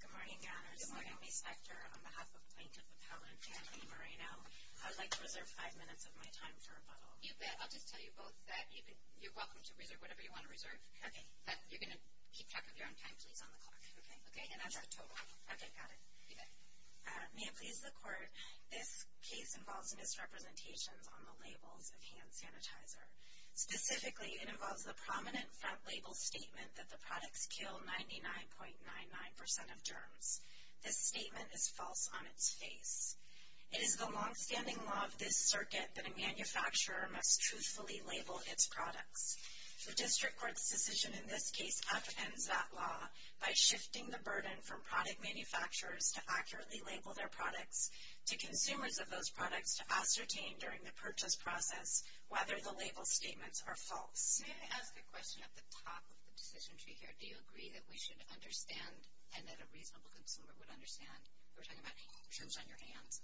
Good morning, Ganners. Good morning, Ms. Spector. On behalf of Plaintiff Appellant Anthony Moreno, I would like to reserve five minutes of my time for rebuttal. You bet. I'll just tell you both that you're welcome to reserve whatever you want to reserve. Okay. You're going to keep track of your own time, please, on the clock. Okay. And that's October. Okay, got it. You bet. May it please the Court, this case involves misrepresentations on the labels of hand sanitizer. Specifically, it involves the prominent front label statement that the products kill 99.99% of germs. This statement is false on its face. It is the longstanding law of this circuit that a manufacturer must truthfully label its products. The District Court's decision in this case upends that law by shifting the burden from product manufacturers to accurately label their products to consumers of those products to ascertain during the purchase process whether the label statements are false. May I ask a question at the top of the decision tree here? Do you agree that we should understand and that a reasonable consumer would understand? We're talking about germs on your hands.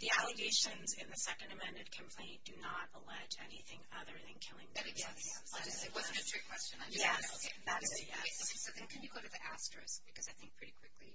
The allegations in the second amended complaint do not allege anything other than killing 99.99% of germs. Yes. It wasn't just your question. Yes. That is a yes. Okay, so then can you go to the asterisk, because I think pretty quickly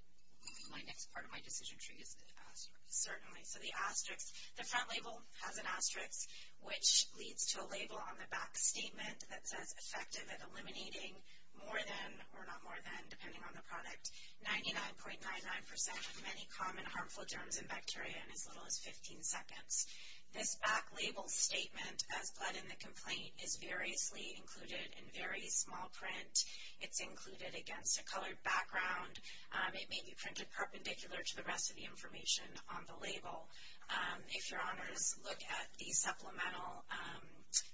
my next part of my decision tree is the asterisk. Certainly. Okay, so the asterisk, the front label has an asterisk, which leads to a label on the back statement that says effective at eliminating more than or not more than, depending on the product, 99.99% of many common harmful germs and bacteria in as little as 15 seconds. This back label statement, as led in the complaint, is variously included in very small print. It's included against a colored background. It may be printed perpendicular to the rest of the information on the label. If your honors look at the supplemental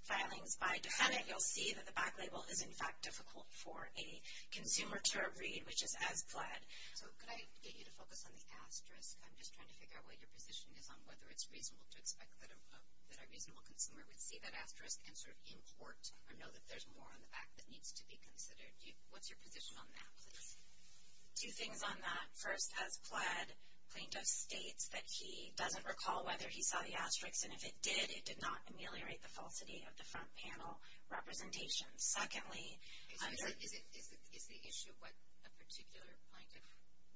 filings by defendant, you'll see that the back label is, in fact, difficult for a consumer to read, which is as pled. So could I get you to focus on the asterisk? I'm just trying to figure out what your position is on whether it's reasonable to expect that a reasonable consumer would see that asterisk and sort of import or know that there's more on the back that needs to be considered. What's your position on that, please? Two things on that. First, as pled, plaintiff states that he doesn't recall whether he saw the asterisk, and if it did, it did not ameliorate the falsity of the front panel representation. Secondly, under the... Is the issue what a particular plaintiff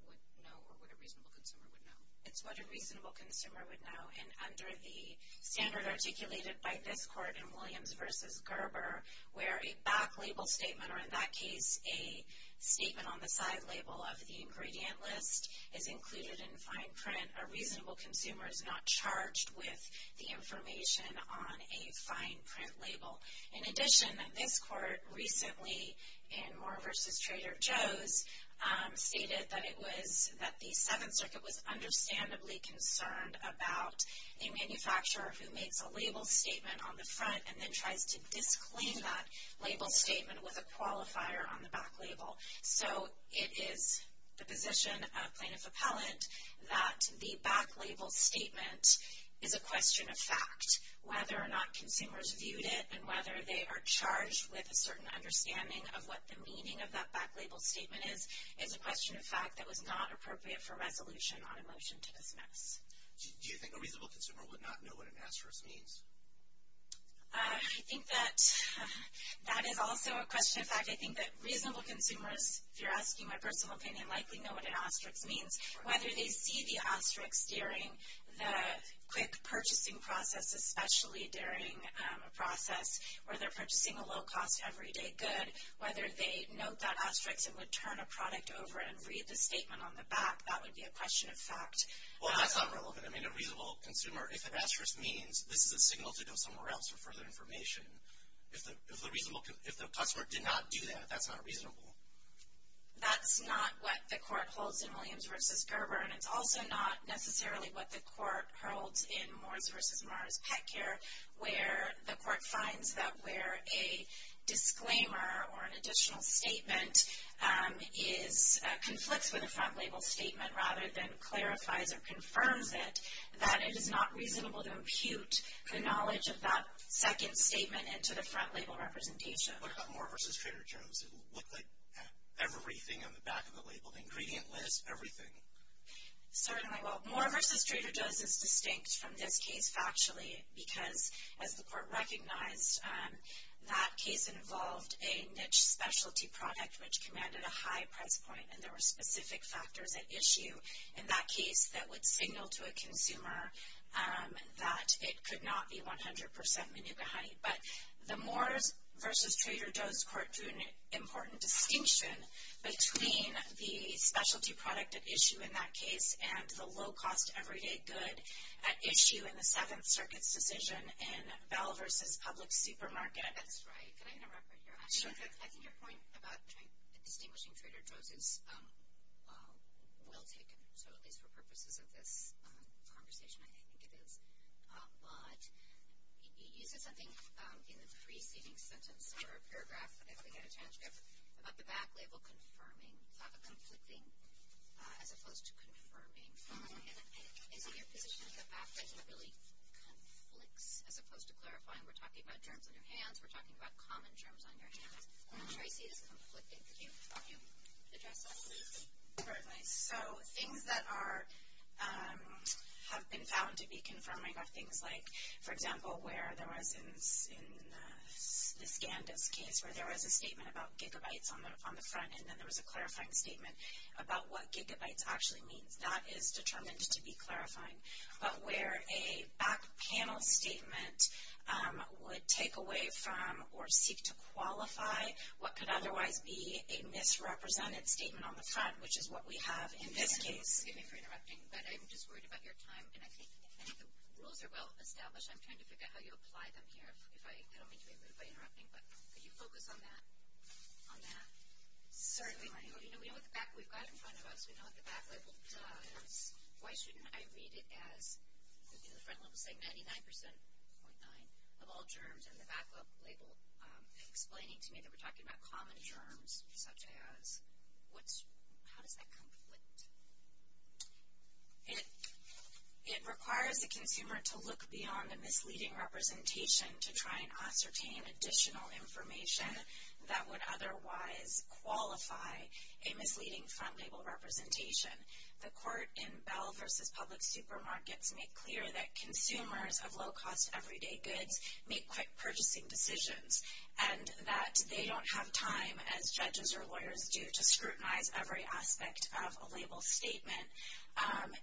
would know or what a reasonable consumer would know? It's what a reasonable consumer would know. And under the standard articulated by this court in Williams v. Gerber, where a back label statement, or in that case a statement on the side label of the ingredient list, is included in fine print, a reasonable consumer is not charged with the information on a fine print label. In addition, this court recently, in Moore v. Trader Joe's, stated that the Seventh Circuit was understandably concerned about a manufacturer who makes a label statement on the front and then tries to disclaim that label statement with a qualifier on the back label. So it is the position of plaintiff appellant that the back label statement is a question of fact. Whether or not consumers viewed it and whether they are charged with a certain understanding of what the meaning of that back label statement is, is a question of fact that was not appropriate for resolution on a motion to dismiss. Do you think a reasonable consumer would not know what an asterisk means? I think that that is also a question of fact. I think that reasonable consumers, if you're asking my personal opinion, likely know what an asterisk means. Whether they see the asterisk during the quick purchasing process, especially during a process where they're purchasing a low-cost, everyday good, whether they note that asterisk and would turn a product over and read the statement on the back, that would be a question of fact. Well, that's not relevant. I mean, a reasonable consumer, if an asterisk means this is a signal to go somewhere else for further information, if the customer did not do that, that's not reasonable. That's not what the court holds in Williams v. Gerber, and it's also not necessarily what the court holds in Morris v. Morris Pet Care, where the court finds that where a disclaimer or an additional statement conflicts with a front-label statement rather than clarifies or confirms it, that it is not reasonable to impute the knowledge of that second statement into the front-label representation. What about Moore v. Trader Joe's? It looked like everything on the back of the labeled ingredient list, everything. Certainly. Well, Moore v. Trader Joe's is distinct from this case factually because, as the court recognized, that case involved a niche specialty product which commanded a high price point, and there were specific factors at issue in that case that would signal to a consumer that it could not be 100% Manuka honey. But the Moore v. Trader Joe's court drew an important distinction between the specialty product at issue in that case and the low-cost everyday good at issue in the Seventh Circuit's decision in Bell v. Public Supermarket. That's right. Can I interrupt right here? Sure. I think your point about distinguishing Trader Joe's is well taken, so at least for purposes of this conversation, I think it is. But you said something in the preceding sentence or paragraph, if we get a chance, about the back label confirming, the thought of conflicting as opposed to confirming. Is it your position that the back label really conflicts as opposed to clarifying? We're talking about germs on your hands. We're talking about common germs on your hands. I'm not sure I see this conflicting. Can you address that, please? Sure. So things that have been found to be confirming are things like, for example, where there was in the Scandis case where there was a statement about gigabytes on the front and then there was a clarifying statement about what gigabytes actually means. That is determined to be clarifying. But where a back panel statement would take away from or seek to qualify what could otherwise be a misrepresented statement on the front, which is what we have in this case. Excuse me for interrupting, but I'm just worried about your time, and I think the rules are well established. I'm trying to figure out how you apply them here. I don't mean to be rude by interrupting, but could you focus on that? Certainly. We know what we've got in front of us. We know what the back label does. Why shouldn't I read it as, you know, the front label saying 99.9% of all germs and the back label explaining to me that we're talking about common germs, such as... How does that conflict? It requires the consumer to look beyond a misleading representation to try and ascertain additional information that would otherwise qualify a misleading front label representation. The court in Bell v. Public Supermarkets made clear that consumers of low-cost everyday goods make quick purchasing decisions and that they don't have time, as judges or lawyers do, to scrutinize every aspect of a label statement. And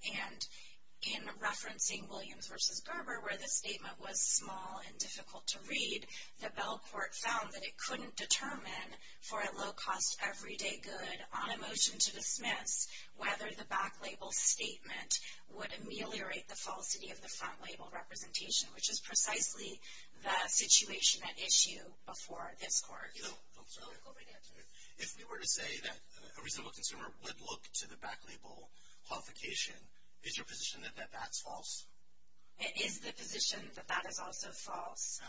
in referencing Williams v. Gerber, where the statement was small and difficult to read, the Bell court found that it couldn't determine for a low-cost everyday good on a motion to dismiss whether the back label statement would ameliorate the falsity of the front label representation, which is precisely the situation at issue before this court. If we were to say that a reasonable consumer would look to the back label qualification, is your position that that's false? It is the position that that is also false.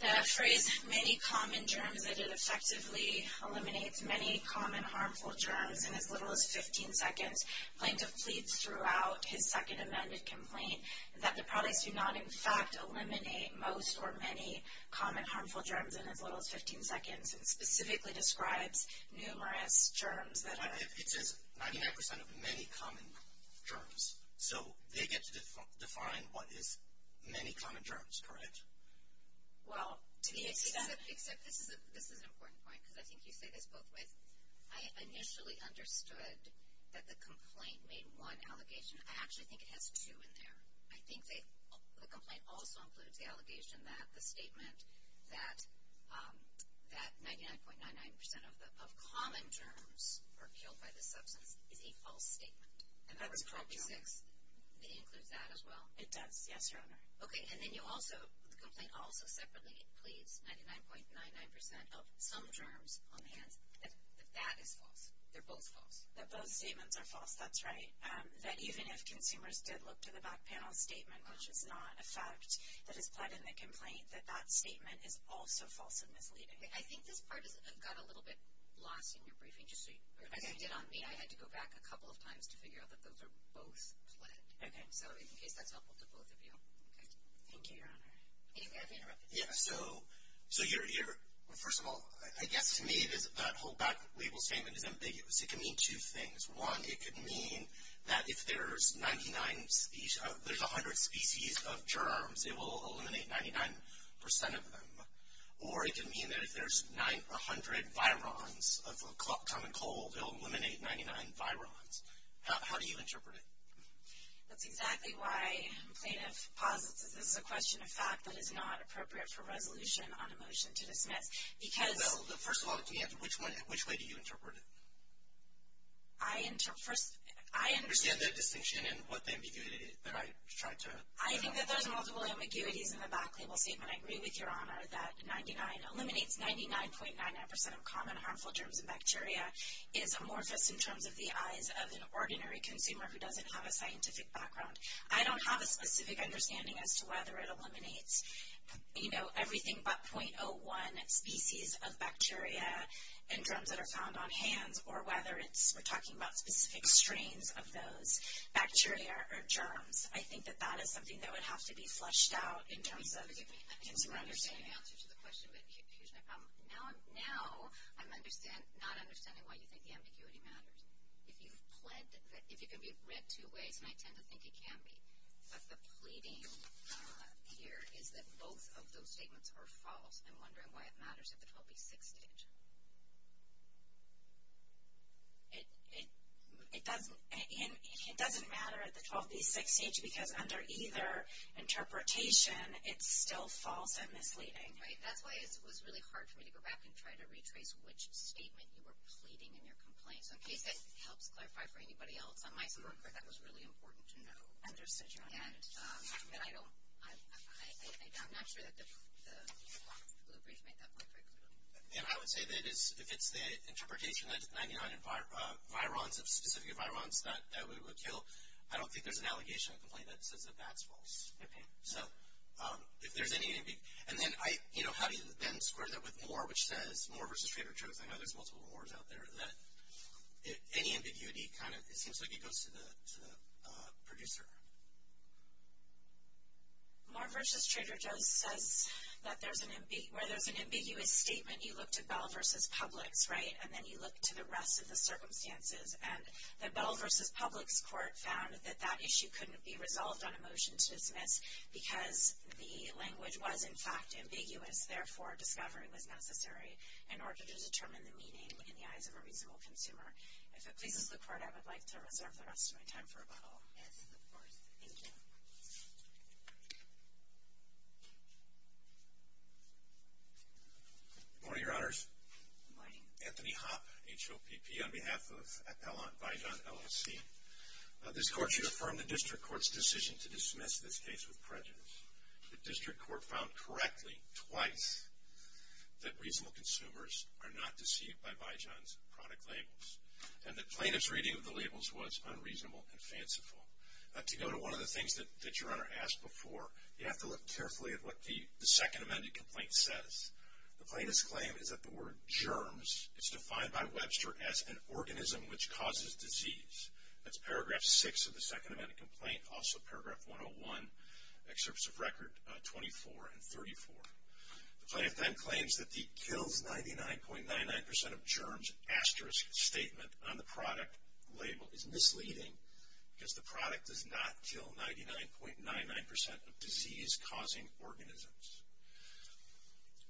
The phrase, many common germs, that it effectively eliminates many common harmful germs in as little as 15 seconds claimed to plead throughout his second amended complaint that the products do not, in fact, eliminate most or many common harmful germs in as little as 15 seconds, and specifically describes numerous germs that are... It says 99% of many common germs. So they get to define what is many common germs, correct? Well, except this is an important point, because I think you say this both ways. I initially understood that the complaint made one allegation. I actually think it has two in there. I think the complaint also includes the allegation that the statement that 99.99% of common germs are killed by the substance is a false statement. That's correct, Your Honor. It includes that as well? It does, yes, Your Honor. Okay, and then you also, the complaint also separately pleads 99.99% of some germs on the hands, that that is false, they're both false. That both statements are false, that's right. That even if consumers did look to the back panel statement, which is not a fact that is pled in the complaint, that that statement is also false and misleading. I think this part got a little bit lost in your briefing. As it did on me, I had to go back a couple of times to figure out that those are both pled. Okay. So in case that's helpful to both of you. Thank you, Your Honor. David? Yeah, so first of all, I guess to me that whole back label statement is ambiguous. It can mean two things. One, it could mean that if there's 99, there's 100 species of germs, it will eliminate 99% of them. Or it could mean that if there's 100 virons of common cold, it will eliminate 99 virons. How do you interpret it? That's exactly why plaintiff posits that this is a question of fact that is not appropriate for resolution on a motion to dismiss. Because. First of all, to me, which way do you interpret it? I interpret first. I understand the distinction and what the ambiguity that I tried to. I think that there's multiple ambiguities in the back label statement. I agree with Your Honor that 99 eliminates 99.99% of common harmful germs and bacteria is amorphous in terms of the eyes of an ordinary consumer who doesn't have a scientific background. I don't have a specific understanding as to whether it eliminates, you know, everything but .01 species of bacteria and germs that are found on hands or whether it's, we're talking about specific strains of those bacteria or germs. I think that that is something that would have to be fleshed out in terms of consumer understanding. I think I understand the answer to the question, but here's my problem. Now, I'm not understanding why you think the ambiguity matters. If you've pled, if it can be read two ways, and I tend to think it can be. But the pleading here is that both of those statements are false. I'm wondering why it matters at the 12B6 stage. It doesn't matter at the 12B6 stage because under either interpretation, it's still false and misleading. Right. That's why it was really hard for me to go back and try to retrace which statement you were pleading in your complaint. So, in case that helps clarify for anybody else on my side, that was really important to know. And I don't, I'm not sure that the blue brief made that point very clearly. I would say that if it's the interpretation that 99 virons of specific virons that we would kill, I don't think there's an allegation in the complaint that says that that's false. Okay. So, if there's any ambiguity. And then I, you know, how do you then square that with Moore, which says, Moore versus Trader Joe's. I know there's multiple Moores out there. That any ambiguity kind of, it seems like it goes to the producer. Moore versus Trader Joe's says that there's an, where there's an ambiguous statement, you look to Bell versus Publix, right? And then you look to the rest of the circumstances. And the Bell versus Publix court found that that issue couldn't be resolved on a motion to dismiss because the language was, in fact, ambiguous. Therefore, discovery was necessary in order to determine the meaning in the eyes of a reasonable consumer. If it pleases the court, I would like to reserve the rest of my time for a bottle. Yes, of course. Thank you. Good morning, Your Honors. Good morning. Anthony Hoppe, H-O-P-P, on behalf of Appellant Vijon, LLC. This court should affirm the district court's decision to dismiss this case with prejudice. The district court found correctly, twice, that reasonable consumers are not deceived by Vijon's product labels. And the plaintiff's reading of the labels was unreasonable and fanciful. To go to one of the things that Your Honor asked before, you have to look carefully at what the second amended complaint says. The plaintiff's claim is that the word germs is defined by Webster as an organism which causes disease. That's paragraph 6 of the second amended complaint, also paragraph 101, excerpts of record 24 and 34. The plaintiff then claims that the kills 99.99% of germs asterisk statement on the product label is misleading because the product does not kill 99.99% of disease-causing organisms.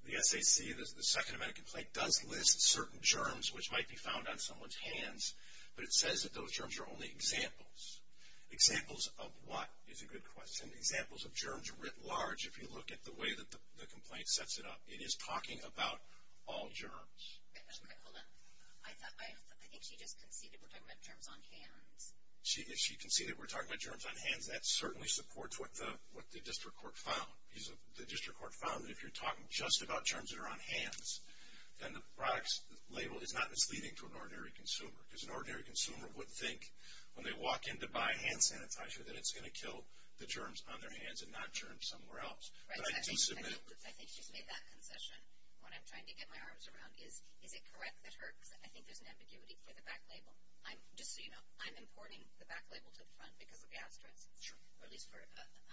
The SAC, the second amended complaint, does list certain germs which might be found on someone's hands, but it says that those germs are only examples. Examples of what is a good question. Examples of germs writ large, if you look at the way that the complaint sets it up. It is talking about all germs. Hold on. I think she just conceded we're talking about germs on hands. She conceded we're talking about germs on hands. That certainly supports what the district court found. The district court found that if you're talking just about germs that are on hands, then the product's label is not misleading to an ordinary consumer because an ordinary consumer would think when they walk in to buy hand sanitizer that it's going to kill the germs on their hands and not germs somewhere else. But I do submit. I think she's made that concession. What I'm trying to get my arms around is, is it correct that her, because I think there's an ambiguity for the back label. Just so you know, I'm importing the back label to the front because of the asterisks. Sure. At least for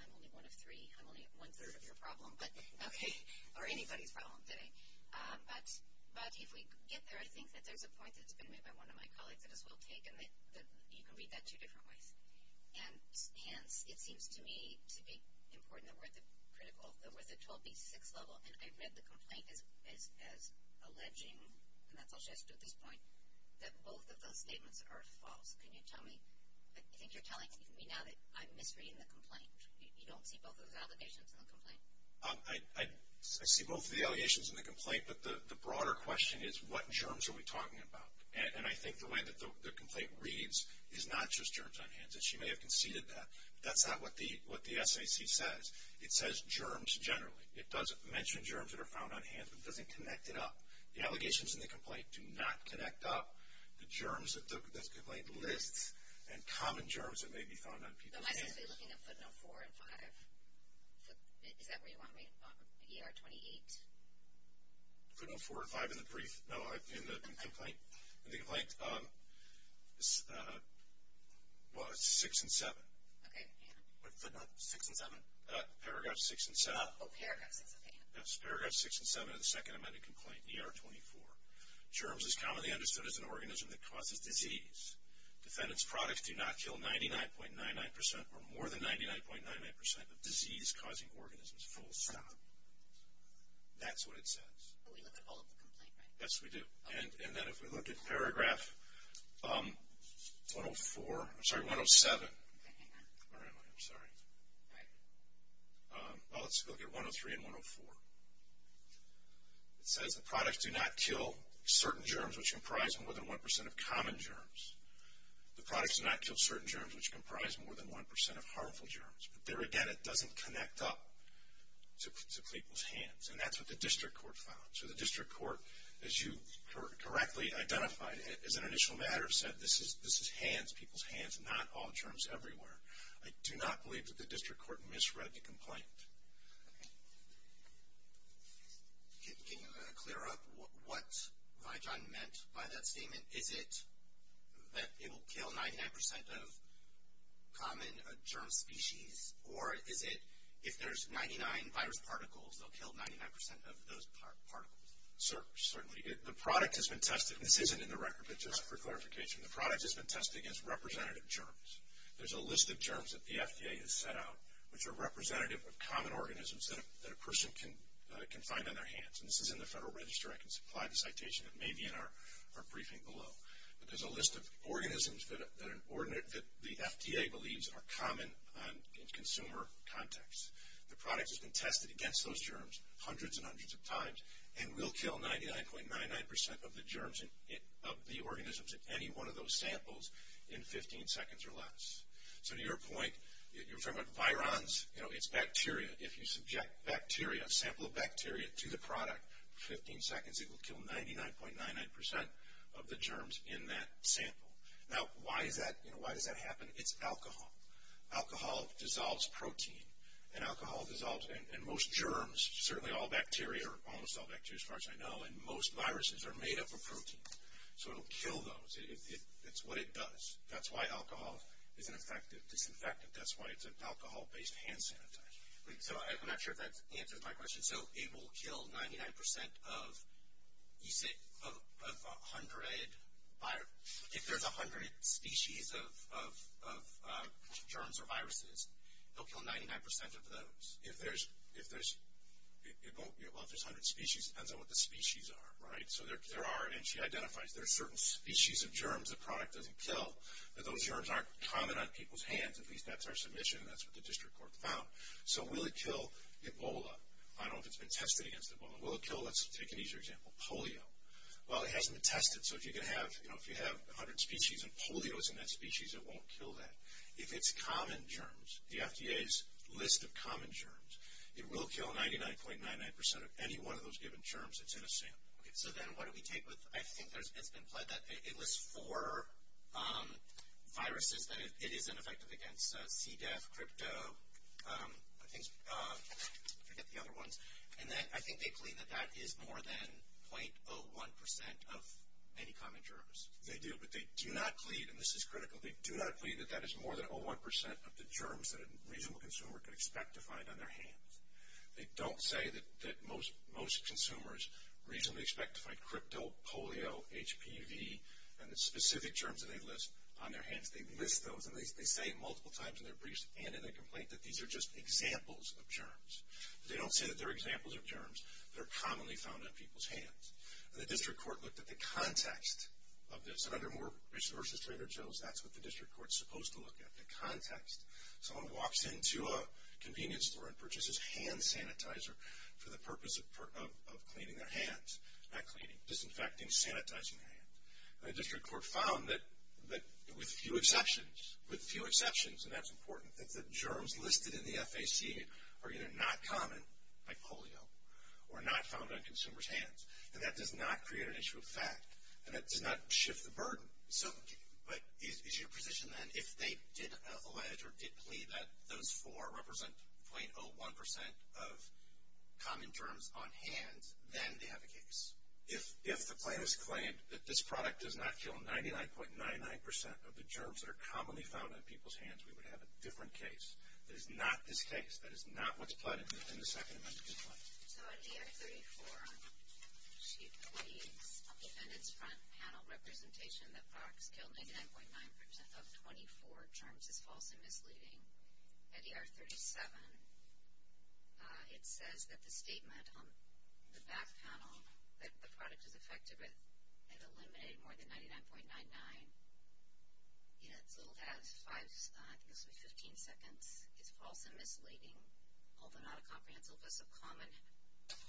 I'm only one of three. I'm only one-third of your problem, but, okay, or anybody's problem today. But if we get there, I think that there's a point that's been made by one of my colleagues that is well taken that you can read that two different ways. And hence, it seems to me to be important that we're at the 12B6 level, and I read the complaint as alleging, and that's all she has to do at this point, that both of those statements are false. Can you tell me? I think you're telling me now that I'm misreading the complaint. You don't see both of those allegations in the complaint? I see both of the allegations in the complaint, but the broader question is what germs are we talking about? And I think the way that the complaint reads is not just germs on hands, and she may have conceded that. That's not what the SAC says. It says germs generally. It doesn't mention germs that are found on hands, but it doesn't connect it up. The allegations in the complaint do not connect up. The germs that the complaint lists and common germs that may be found on people's hands. Am I supposed to be looking at footnote 4 and 5? Is that where you want me? ER 28? Footnote 4 and 5 in the brief? No, in the complaint? In the complaint? Well, it's 6 and 7. Okay. Footnote 6 and 7? Paragraph 6 and 7. Oh, paragraph 6. Okay. That's paragraph 6 and 7 of the second amended complaint, ER 24. Germs is commonly understood as an organism that causes disease. Defendant's products do not kill 99.99% or more than 99.99% of disease-causing organisms, full stop. That's what it says. We look at all of the complaints, right? Yes, we do. And then if we look at paragraph 104, I'm sorry, 107. Hang on. Where am I? I'm sorry. All right. Let's look at 103 and 104. It says the products do not kill certain germs, which comprise more than 1% of common germs. The products do not kill certain germs, which comprise more than 1% of harmful germs. But there again, it doesn't connect up to people's hands. And that's what the district court found. So the district court, as you correctly identified as an initial matter, said this is hands, people's hands, not all germs everywhere. I do not believe that the district court misread the complaint. Can you clear up what Vijan meant by that statement? Is it that it will kill 99% of common germ species? Or is it if there's 99 virus particles, they'll kill 99% of those particles? Certainly. The product has been tested. This isn't in the record, but just for clarification. The product has been tested against representative germs. There's a list of germs that the FDA has set out, which are representative of common organisms that a person can find on their hands. And this is in the Federal Register. I can supply the citation. It may be in our briefing below. But there's a list of organisms that the FDA believes are common in consumer context. The product has been tested against those germs hundreds and hundreds of times and will kill 99.99% of the germs of the organisms in any one of those samples in 15 seconds or less. So to your point, you're talking about virons. It's bacteria. If you subject bacteria, a sample of bacteria, to the product for 15 seconds, it will kill 99.99% of the germs in that sample. Now, why does that happen? It's alcohol. Alcohol dissolves protein. And alcohol dissolves, and most germs, certainly all bacteria, almost all bacteria as far as I know, and most viruses are made up of protein. So it will kill those. It's what it does. That's why alcohol is an effective disinfectant. That's why it's an alcohol-based hand sanitizer. So I'm not sure if that answers my question. So it will kill 99% of 100 viruses. If there's 100 species of germs or viruses, it will kill 99% of those. If there's 100 species, it depends on what the species are, right? So there are, and she identifies, there are certain species of germs the product doesn't kill. Those germs aren't common on people's hands. At least that's our submission. That's what the district court found. So will it kill Ebola? I don't know if it's been tested against Ebola. Will it kill, let's take an easier example, polio? Well, it hasn't been tested. So if you can have, you know, if you have 100 species and polio is in that species, it won't kill that. If it's common germs, the FDA's list of common germs, it will kill 99.99% of any one of those given germs that's in a sample. Okay, so then what do we take with, I think it's been pled that it was for viruses, that it is ineffective against CDEF, crypto, I forget the other ones, and then I think they plead that that is more than 0.01% of any common germs. They do, but they do not plead, and this is critical, they do not plead that that is more than 0.01% of the germs that a reasonable consumer could expect to find on their hands. They don't say that most consumers reasonably expect to find crypto, polio, HPV, and the specific germs that they list on their hands. They list those, and they say multiple times in their briefs and in their complaint that these are just examples of germs. They don't say that they're examples of germs. They're commonly found on people's hands. And the district court looked at the context of this, and under Moore v. Trader Joe's, that's what the district court's supposed to look at, the context. Someone walks into a convenience store and purchases hand sanitizer for the purpose of cleaning their hands, not cleaning, disinfecting, sanitizing their hands. And the district court found that with few exceptions, with few exceptions, and that's important, that the germs listed in the FAC are either not common, like polio, or not found on consumers' hands. And that does not create an issue of fact, and that does not shift the burden. So, but is your position then, if they did allege or did plead that those four represent 0.01% of common germs on hands, then they have a case? If the plaintiff's claimed that this product does not kill 99.99% of the germs that are commonly found on people's hands, we would have a different case. That is not this case. That is not what's plotted in the second amendment to this claim. So at ER 34, she pleads on the defendant's front panel representation that products kill 99.9% of 24 germs is false and misleading. At ER 37, it says that the statement on the back panel that the product is affected with, it eliminated more than 99.99. It still has five, I think it was 15 seconds, is false and misleading, although not a comprehensive list of common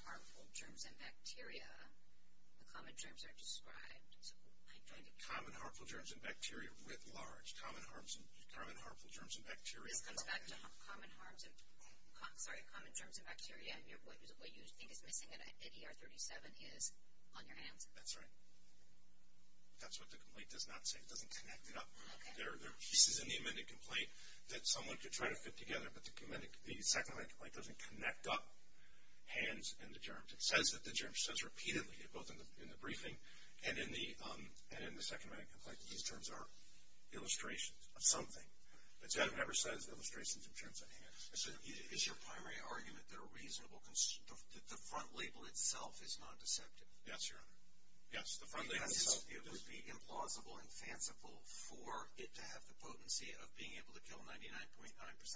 harmful germs and bacteria. The common germs are described. Common harmful germs and bacteria writ large. Common harmful germs and bacteria. This comes back to common germs and bacteria, and what you think is missing at ER 37 is on your hands. That's right. That's what the complaint does not say. It doesn't connect it up. There are pieces in the amended complaint that someone could try to fit together, but the second amendment doesn't connect up hands and the germs. It says that the germ says repeatedly, both in the briefing and in the second amendment complaint, that these germs are illustrations of something, but it never says illustrations of germs on hands. Is your primary argument that the front label itself is non-deceptive? Yes, Your Honor. Yes, the front label itself. It would be implausible and fanciful for it to have the potency of being able to kill 99.9%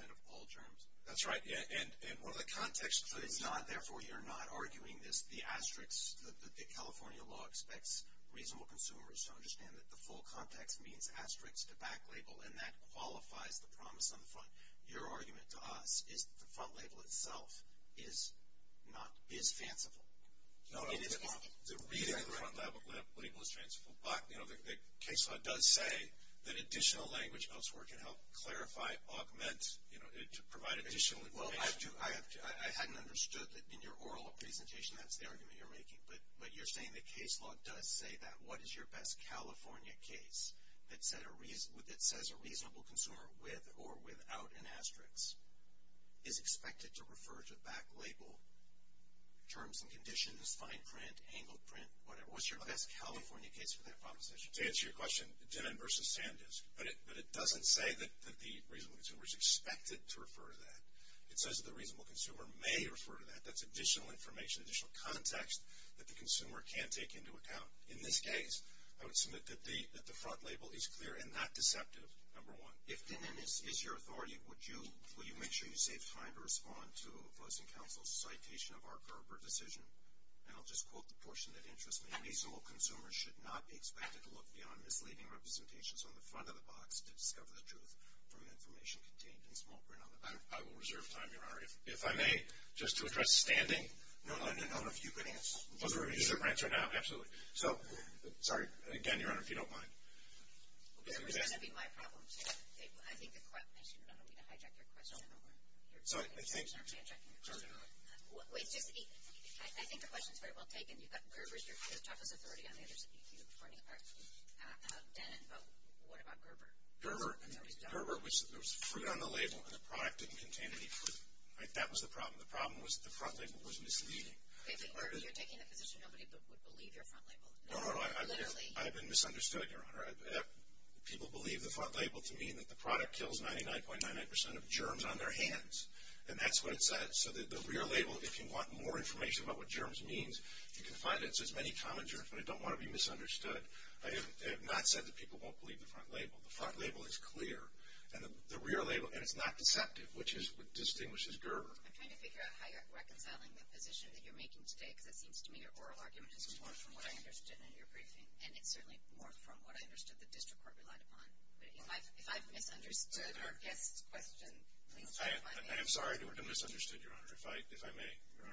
of all germs? That's right. Therefore, you're not arguing that the California law expects reasonable consumers to understand that the full context means asterisks to back label, and that qualifies the promise on the front. Your argument to us is that the front label itself is fanciful. The reading of the front label is fanciful, but the case law does say that additional language elsewhere can help clarify, augment, provide additional information. Well, I hadn't understood that in your oral presentation that's the argument you're making, but you're saying the case law does say that. What is your best California case that says a reasonable consumer with or without an asterisk is expected to refer to the back label? Terms and conditions, fine print, angled print, whatever. What's your best California case for that proposition? To answer your question, Denon v. Sandisk. But it doesn't say that the reasonable consumer is expected to refer to that. It says that the reasonable consumer may refer to that. That's additional information, additional context that the consumer can take into account. In this case, I would submit that the front label is clear and not deceptive, number one. If, Denon, this is your authority, will you make sure you say it's time to respond to Voting Council's citation of our Gerber decision? And I'll just quote the portion that interests me. The reasonable consumer should not be expected to look beyond misleading representations on the front of the box to discover the truth from the information contained in small print on the back. I will reserve time, Your Honor. If I may, just to address standing. No, I don't know if you could answer. Is there a different answer now? Absolutely. So, sorry. Again, Your Honor, if you don't mind. I think the question is very well taken. You've got Gerber as your toughest authority on the other side. You have Denon and Vote. What about Gerber? Gerber was, there was fruit on the label and the product didn't contain any fruit. That was the problem. The problem was that the front label was misleading. Wait, so you're taking the position nobody would believe your front label? No, no, no. Literally. I've been misunderstood, Your Honor. People believe the front label to mean that the product kills 99.99% of germs on their hands. And that's what it said. So, the rear label, if you want more information about what germs means, you can find it says many common germs, but I don't want to be misunderstood. I have not said that people won't believe the front label. The front label is clear. And the rear label, and it's not deceptive, which distinguishes Gerber. I'm trying to figure out how you're reconciling the position that you're making today, because it seems to me your oral argument is more from what I understood in your briefing. And it's certainly more from what I understood the district court relied upon. But if I've misunderstood our guest's question, please don't mind me. I am sorry to have misunderstood, Your Honor, if I may.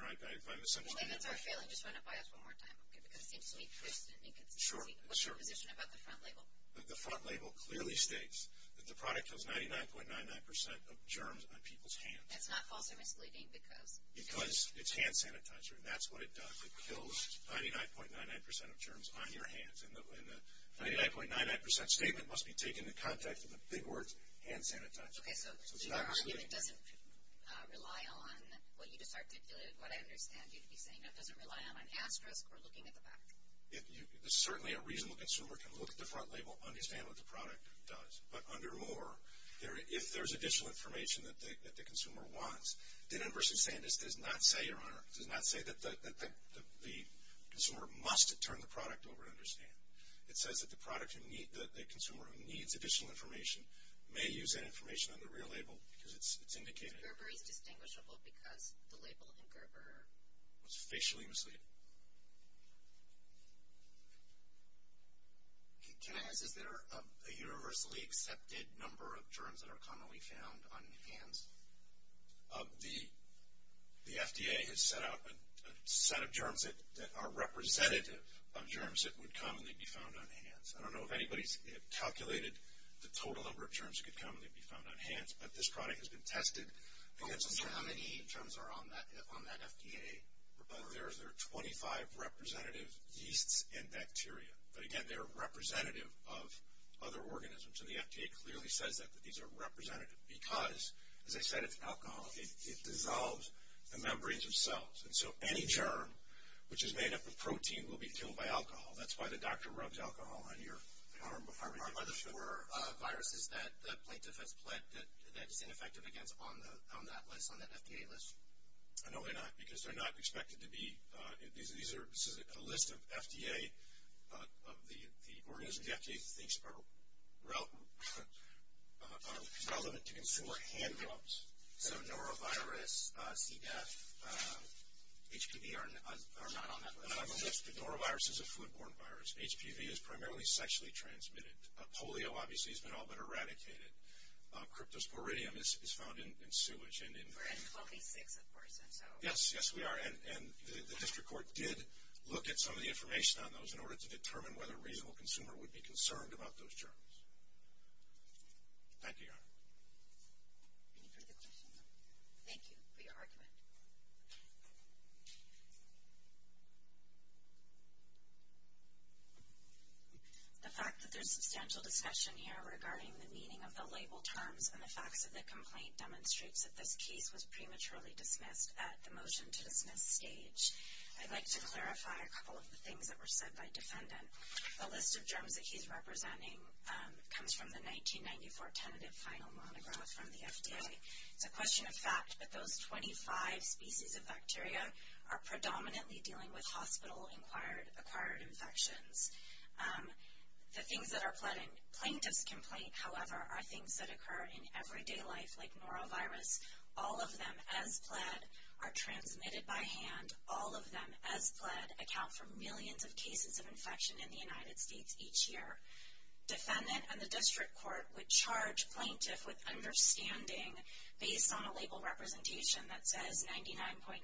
Well, if it's our feeling, just run it by us one more time. Okay? Because it seems to me there's an inconsistent position about the front label. But the front label clearly states that the product kills 99.99% of germs on people's hands. That's not false or misleading because? Because it's hand sanitizer, and that's what it does. It kills 99.99% of germs on your hands. And the 99.99% statement must be taken in context of the big words, hand sanitizer. Okay, so your argument doesn't rely on what you just articulated, what I understand you to be saying. It doesn't rely on an asterisk or looking at the back? Certainly a reasonable consumer can look at the front label and understand what the product does. But under more, if there's additional information that the consumer wants, then inversely saying this does not say, Your Honor, does not say that the consumer must turn the product over and understand. It says that the consumer who needs additional information may use that information on the real label because it's indicated. Gerber is distinguishable because the label in Gerber was facially misleading. Can I ask, is there a universally accepted number of germs that are commonly found on hands? The FDA has set out a set of germs that are representative of germs that would commonly be found on hands. I don't know if anybody's calculated the total number of germs that could commonly be found on hands. But this product has been tested. How many germs are on that FDA report? There are 25 representative yeasts and bacteria. But again, they are representative of other organisms. And the FDA clearly says that these are representative because, as I said, it's alcohol. It dissolves the membranes themselves. And so any germ, which is made up of protein, will be killed by alcohol. That's why the doctor rubs alcohol on your arm. Are those viruses that the plaintiff has pled that is ineffective against on that list, on that FDA list? No, they're not because they're not expected to be. This is a list of the organisms the FDA thinks are relevant to consumer hand germs. So norovirus, CDEF, HPV are not on that list. Norovirus is a foodborne virus. HPV is primarily sexually transmitted. Polio, obviously, has been all but eradicated. Cryptosporidium is found in sewage. We're at 26, of course. Yes, yes, we are. And the district court did look at some of the information on those in order to determine whether a reasonable consumer would be concerned about those germs. Thank you, Your Honor. Any further questions? Thank you for your argument. The fact that there's substantial discussion here regarding the meaning of the label terms and the facts of the complaint demonstrates that this case was prematurely dismissed at the motion-to-dismiss stage. I'd like to clarify a couple of the things that were said by defendant. The list of germs that he's representing comes from the 1994 tentative final monograph from the FDA. It's a question of fact that those 25 species of bacteria are predominantly dealing with hospital-acquired infections. The things that are pled in plaintiff's complaint, however, are things that occur in everyday life like norovirus. All of them, as pled, are transmitted by hand. All of them, as pled, account for millions of cases of infection in the United States each year. Defendant and the district court would charge plaintiff with understanding, based on a label representation that says 99.99%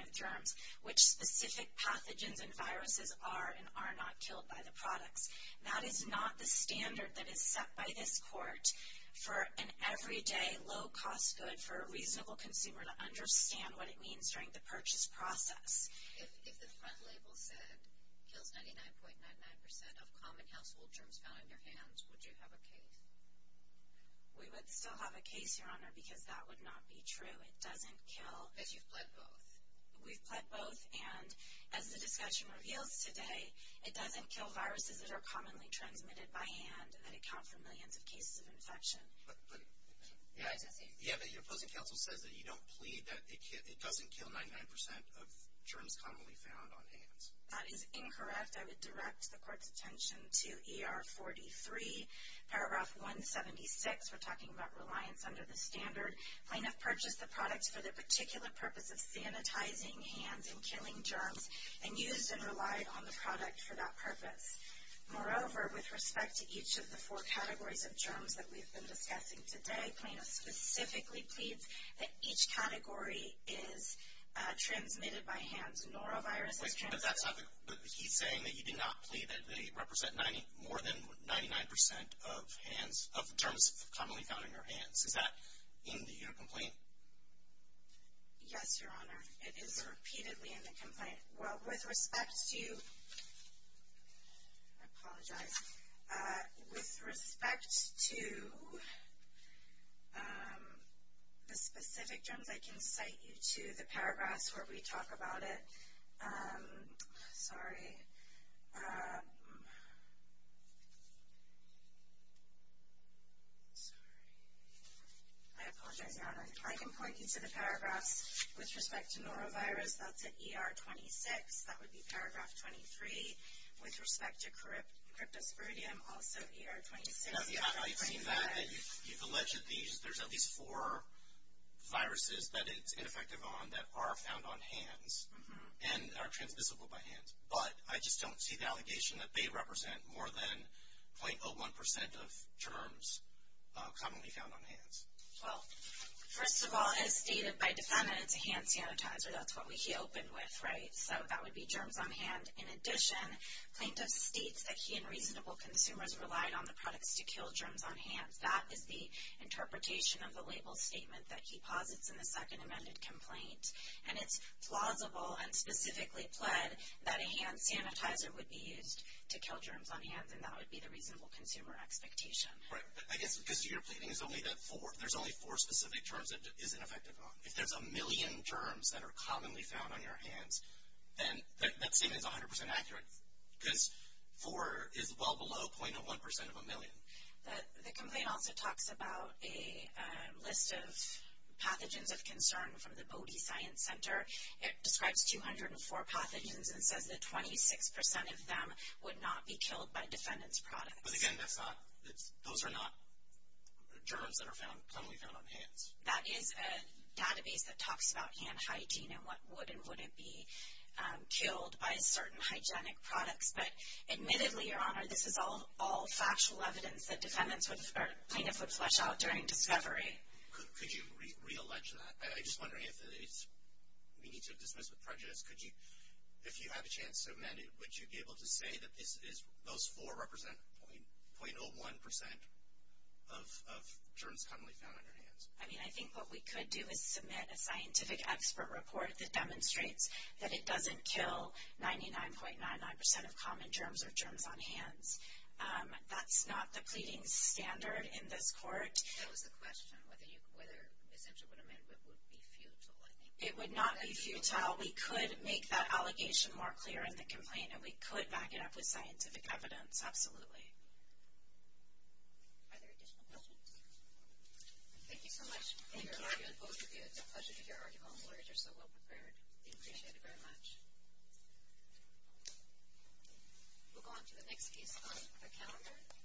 of germs, which specific pathogens and viruses are and are not killed by the products. That is not the standard that is set by this court for an everyday, low-cost good for a reasonable consumer to understand what it means during the purchase process. If the front label said kills 99.99% of common household germs found in your hands, would you have a case? We would still have a case, Your Honor, because that would not be true. It doesn't kill. Because you've pled both. We've pled both. And as the discussion reveals today, it doesn't kill viruses that are commonly transmitted by hand and account for millions of cases of infection. But your opposing counsel says that you don't plead that it doesn't kill 99% of germs commonly found on hands. That is incorrect. I would direct the court's attention to ER 43, paragraph 176. We're talking about reliance under the standard. Plaintiff purchased the product for the particular purpose of sanitizing hands and killing germs and used and relied on the product for that purpose. Moreover, with respect to each of the four categories of germs that we've been discussing today, plaintiff specifically pleads that each category is transmitted by hand. Norovirus is transmitted by hand. But he's saying that you did not plead that they represent more than 99% of terms commonly found in your hands. Is that in your complaint? Yes, Your Honor. It is repeatedly in the complaint. Well, with respect to the specific germs, I can cite you to the paragraphs where we talk about it. Sorry. I apologize, Your Honor. I can point you to the paragraphs with respect to norovirus. That's at ER 26. That would be paragraph 23. With respect to cryptosporidium, also ER 26. I've seen that. You've alleged there's at least four viruses that it's ineffective on that are found on hands. And are transmissible by hand. But I just don't see the allegation that they represent more than 0.01% of germs commonly found on hands. Well, first of all, as stated by defendant, it's a hand sanitizer. That's what he opened with, right? So that would be germs on hand. In addition, plaintiff states that he and reasonable consumers relied on the products to kill germs on hands. That is the interpretation of the label statement that he posits in the second amended complaint. And it's plausible and specifically pled that a hand sanitizer would be used to kill germs on hands. And that would be the reasonable consumer expectation. Right. I guess because you're pleading there's only four specific germs that it is ineffective on. If there's a million germs that are commonly found on your hands, then that statement is 100% accurate. Because four is well below 0.01% of a million. The complaint also talks about a list of pathogens of concern from the Bodie Science Center. It describes 204 pathogens and says that 26% of them would not be killed by defendant's products. But, again, those are not germs that are commonly found on hands. That is a database that talks about hand hygiene and what would and wouldn't be killed by certain hygienic products. But, admittedly, Your Honor, this is all factual evidence that defendants would flesh out during discovery. Could you reallege that? I'm just wondering if we need to dismiss the prejudice. If you have a chance to amend it, would you be able to say that those four represent 0.01% of germs commonly found on your hands? I mean, I think what we could do is submit a scientific expert report that demonstrates that it doesn't kill 99.99% of common germs or germs on hands. That's not the pleading standard in this court. That was the question, whether, essentially, it would be futile. It would not be futile. We could make that allegation more clear in the complaint, and we could back it up with scientific evidence. Absolutely. Are there additional questions? Thank you so much for your argument. Both of you, it's a pleasure to hear arguable words. You're so well prepared. We appreciate it very much. We'll go on to the next piece on the calendar.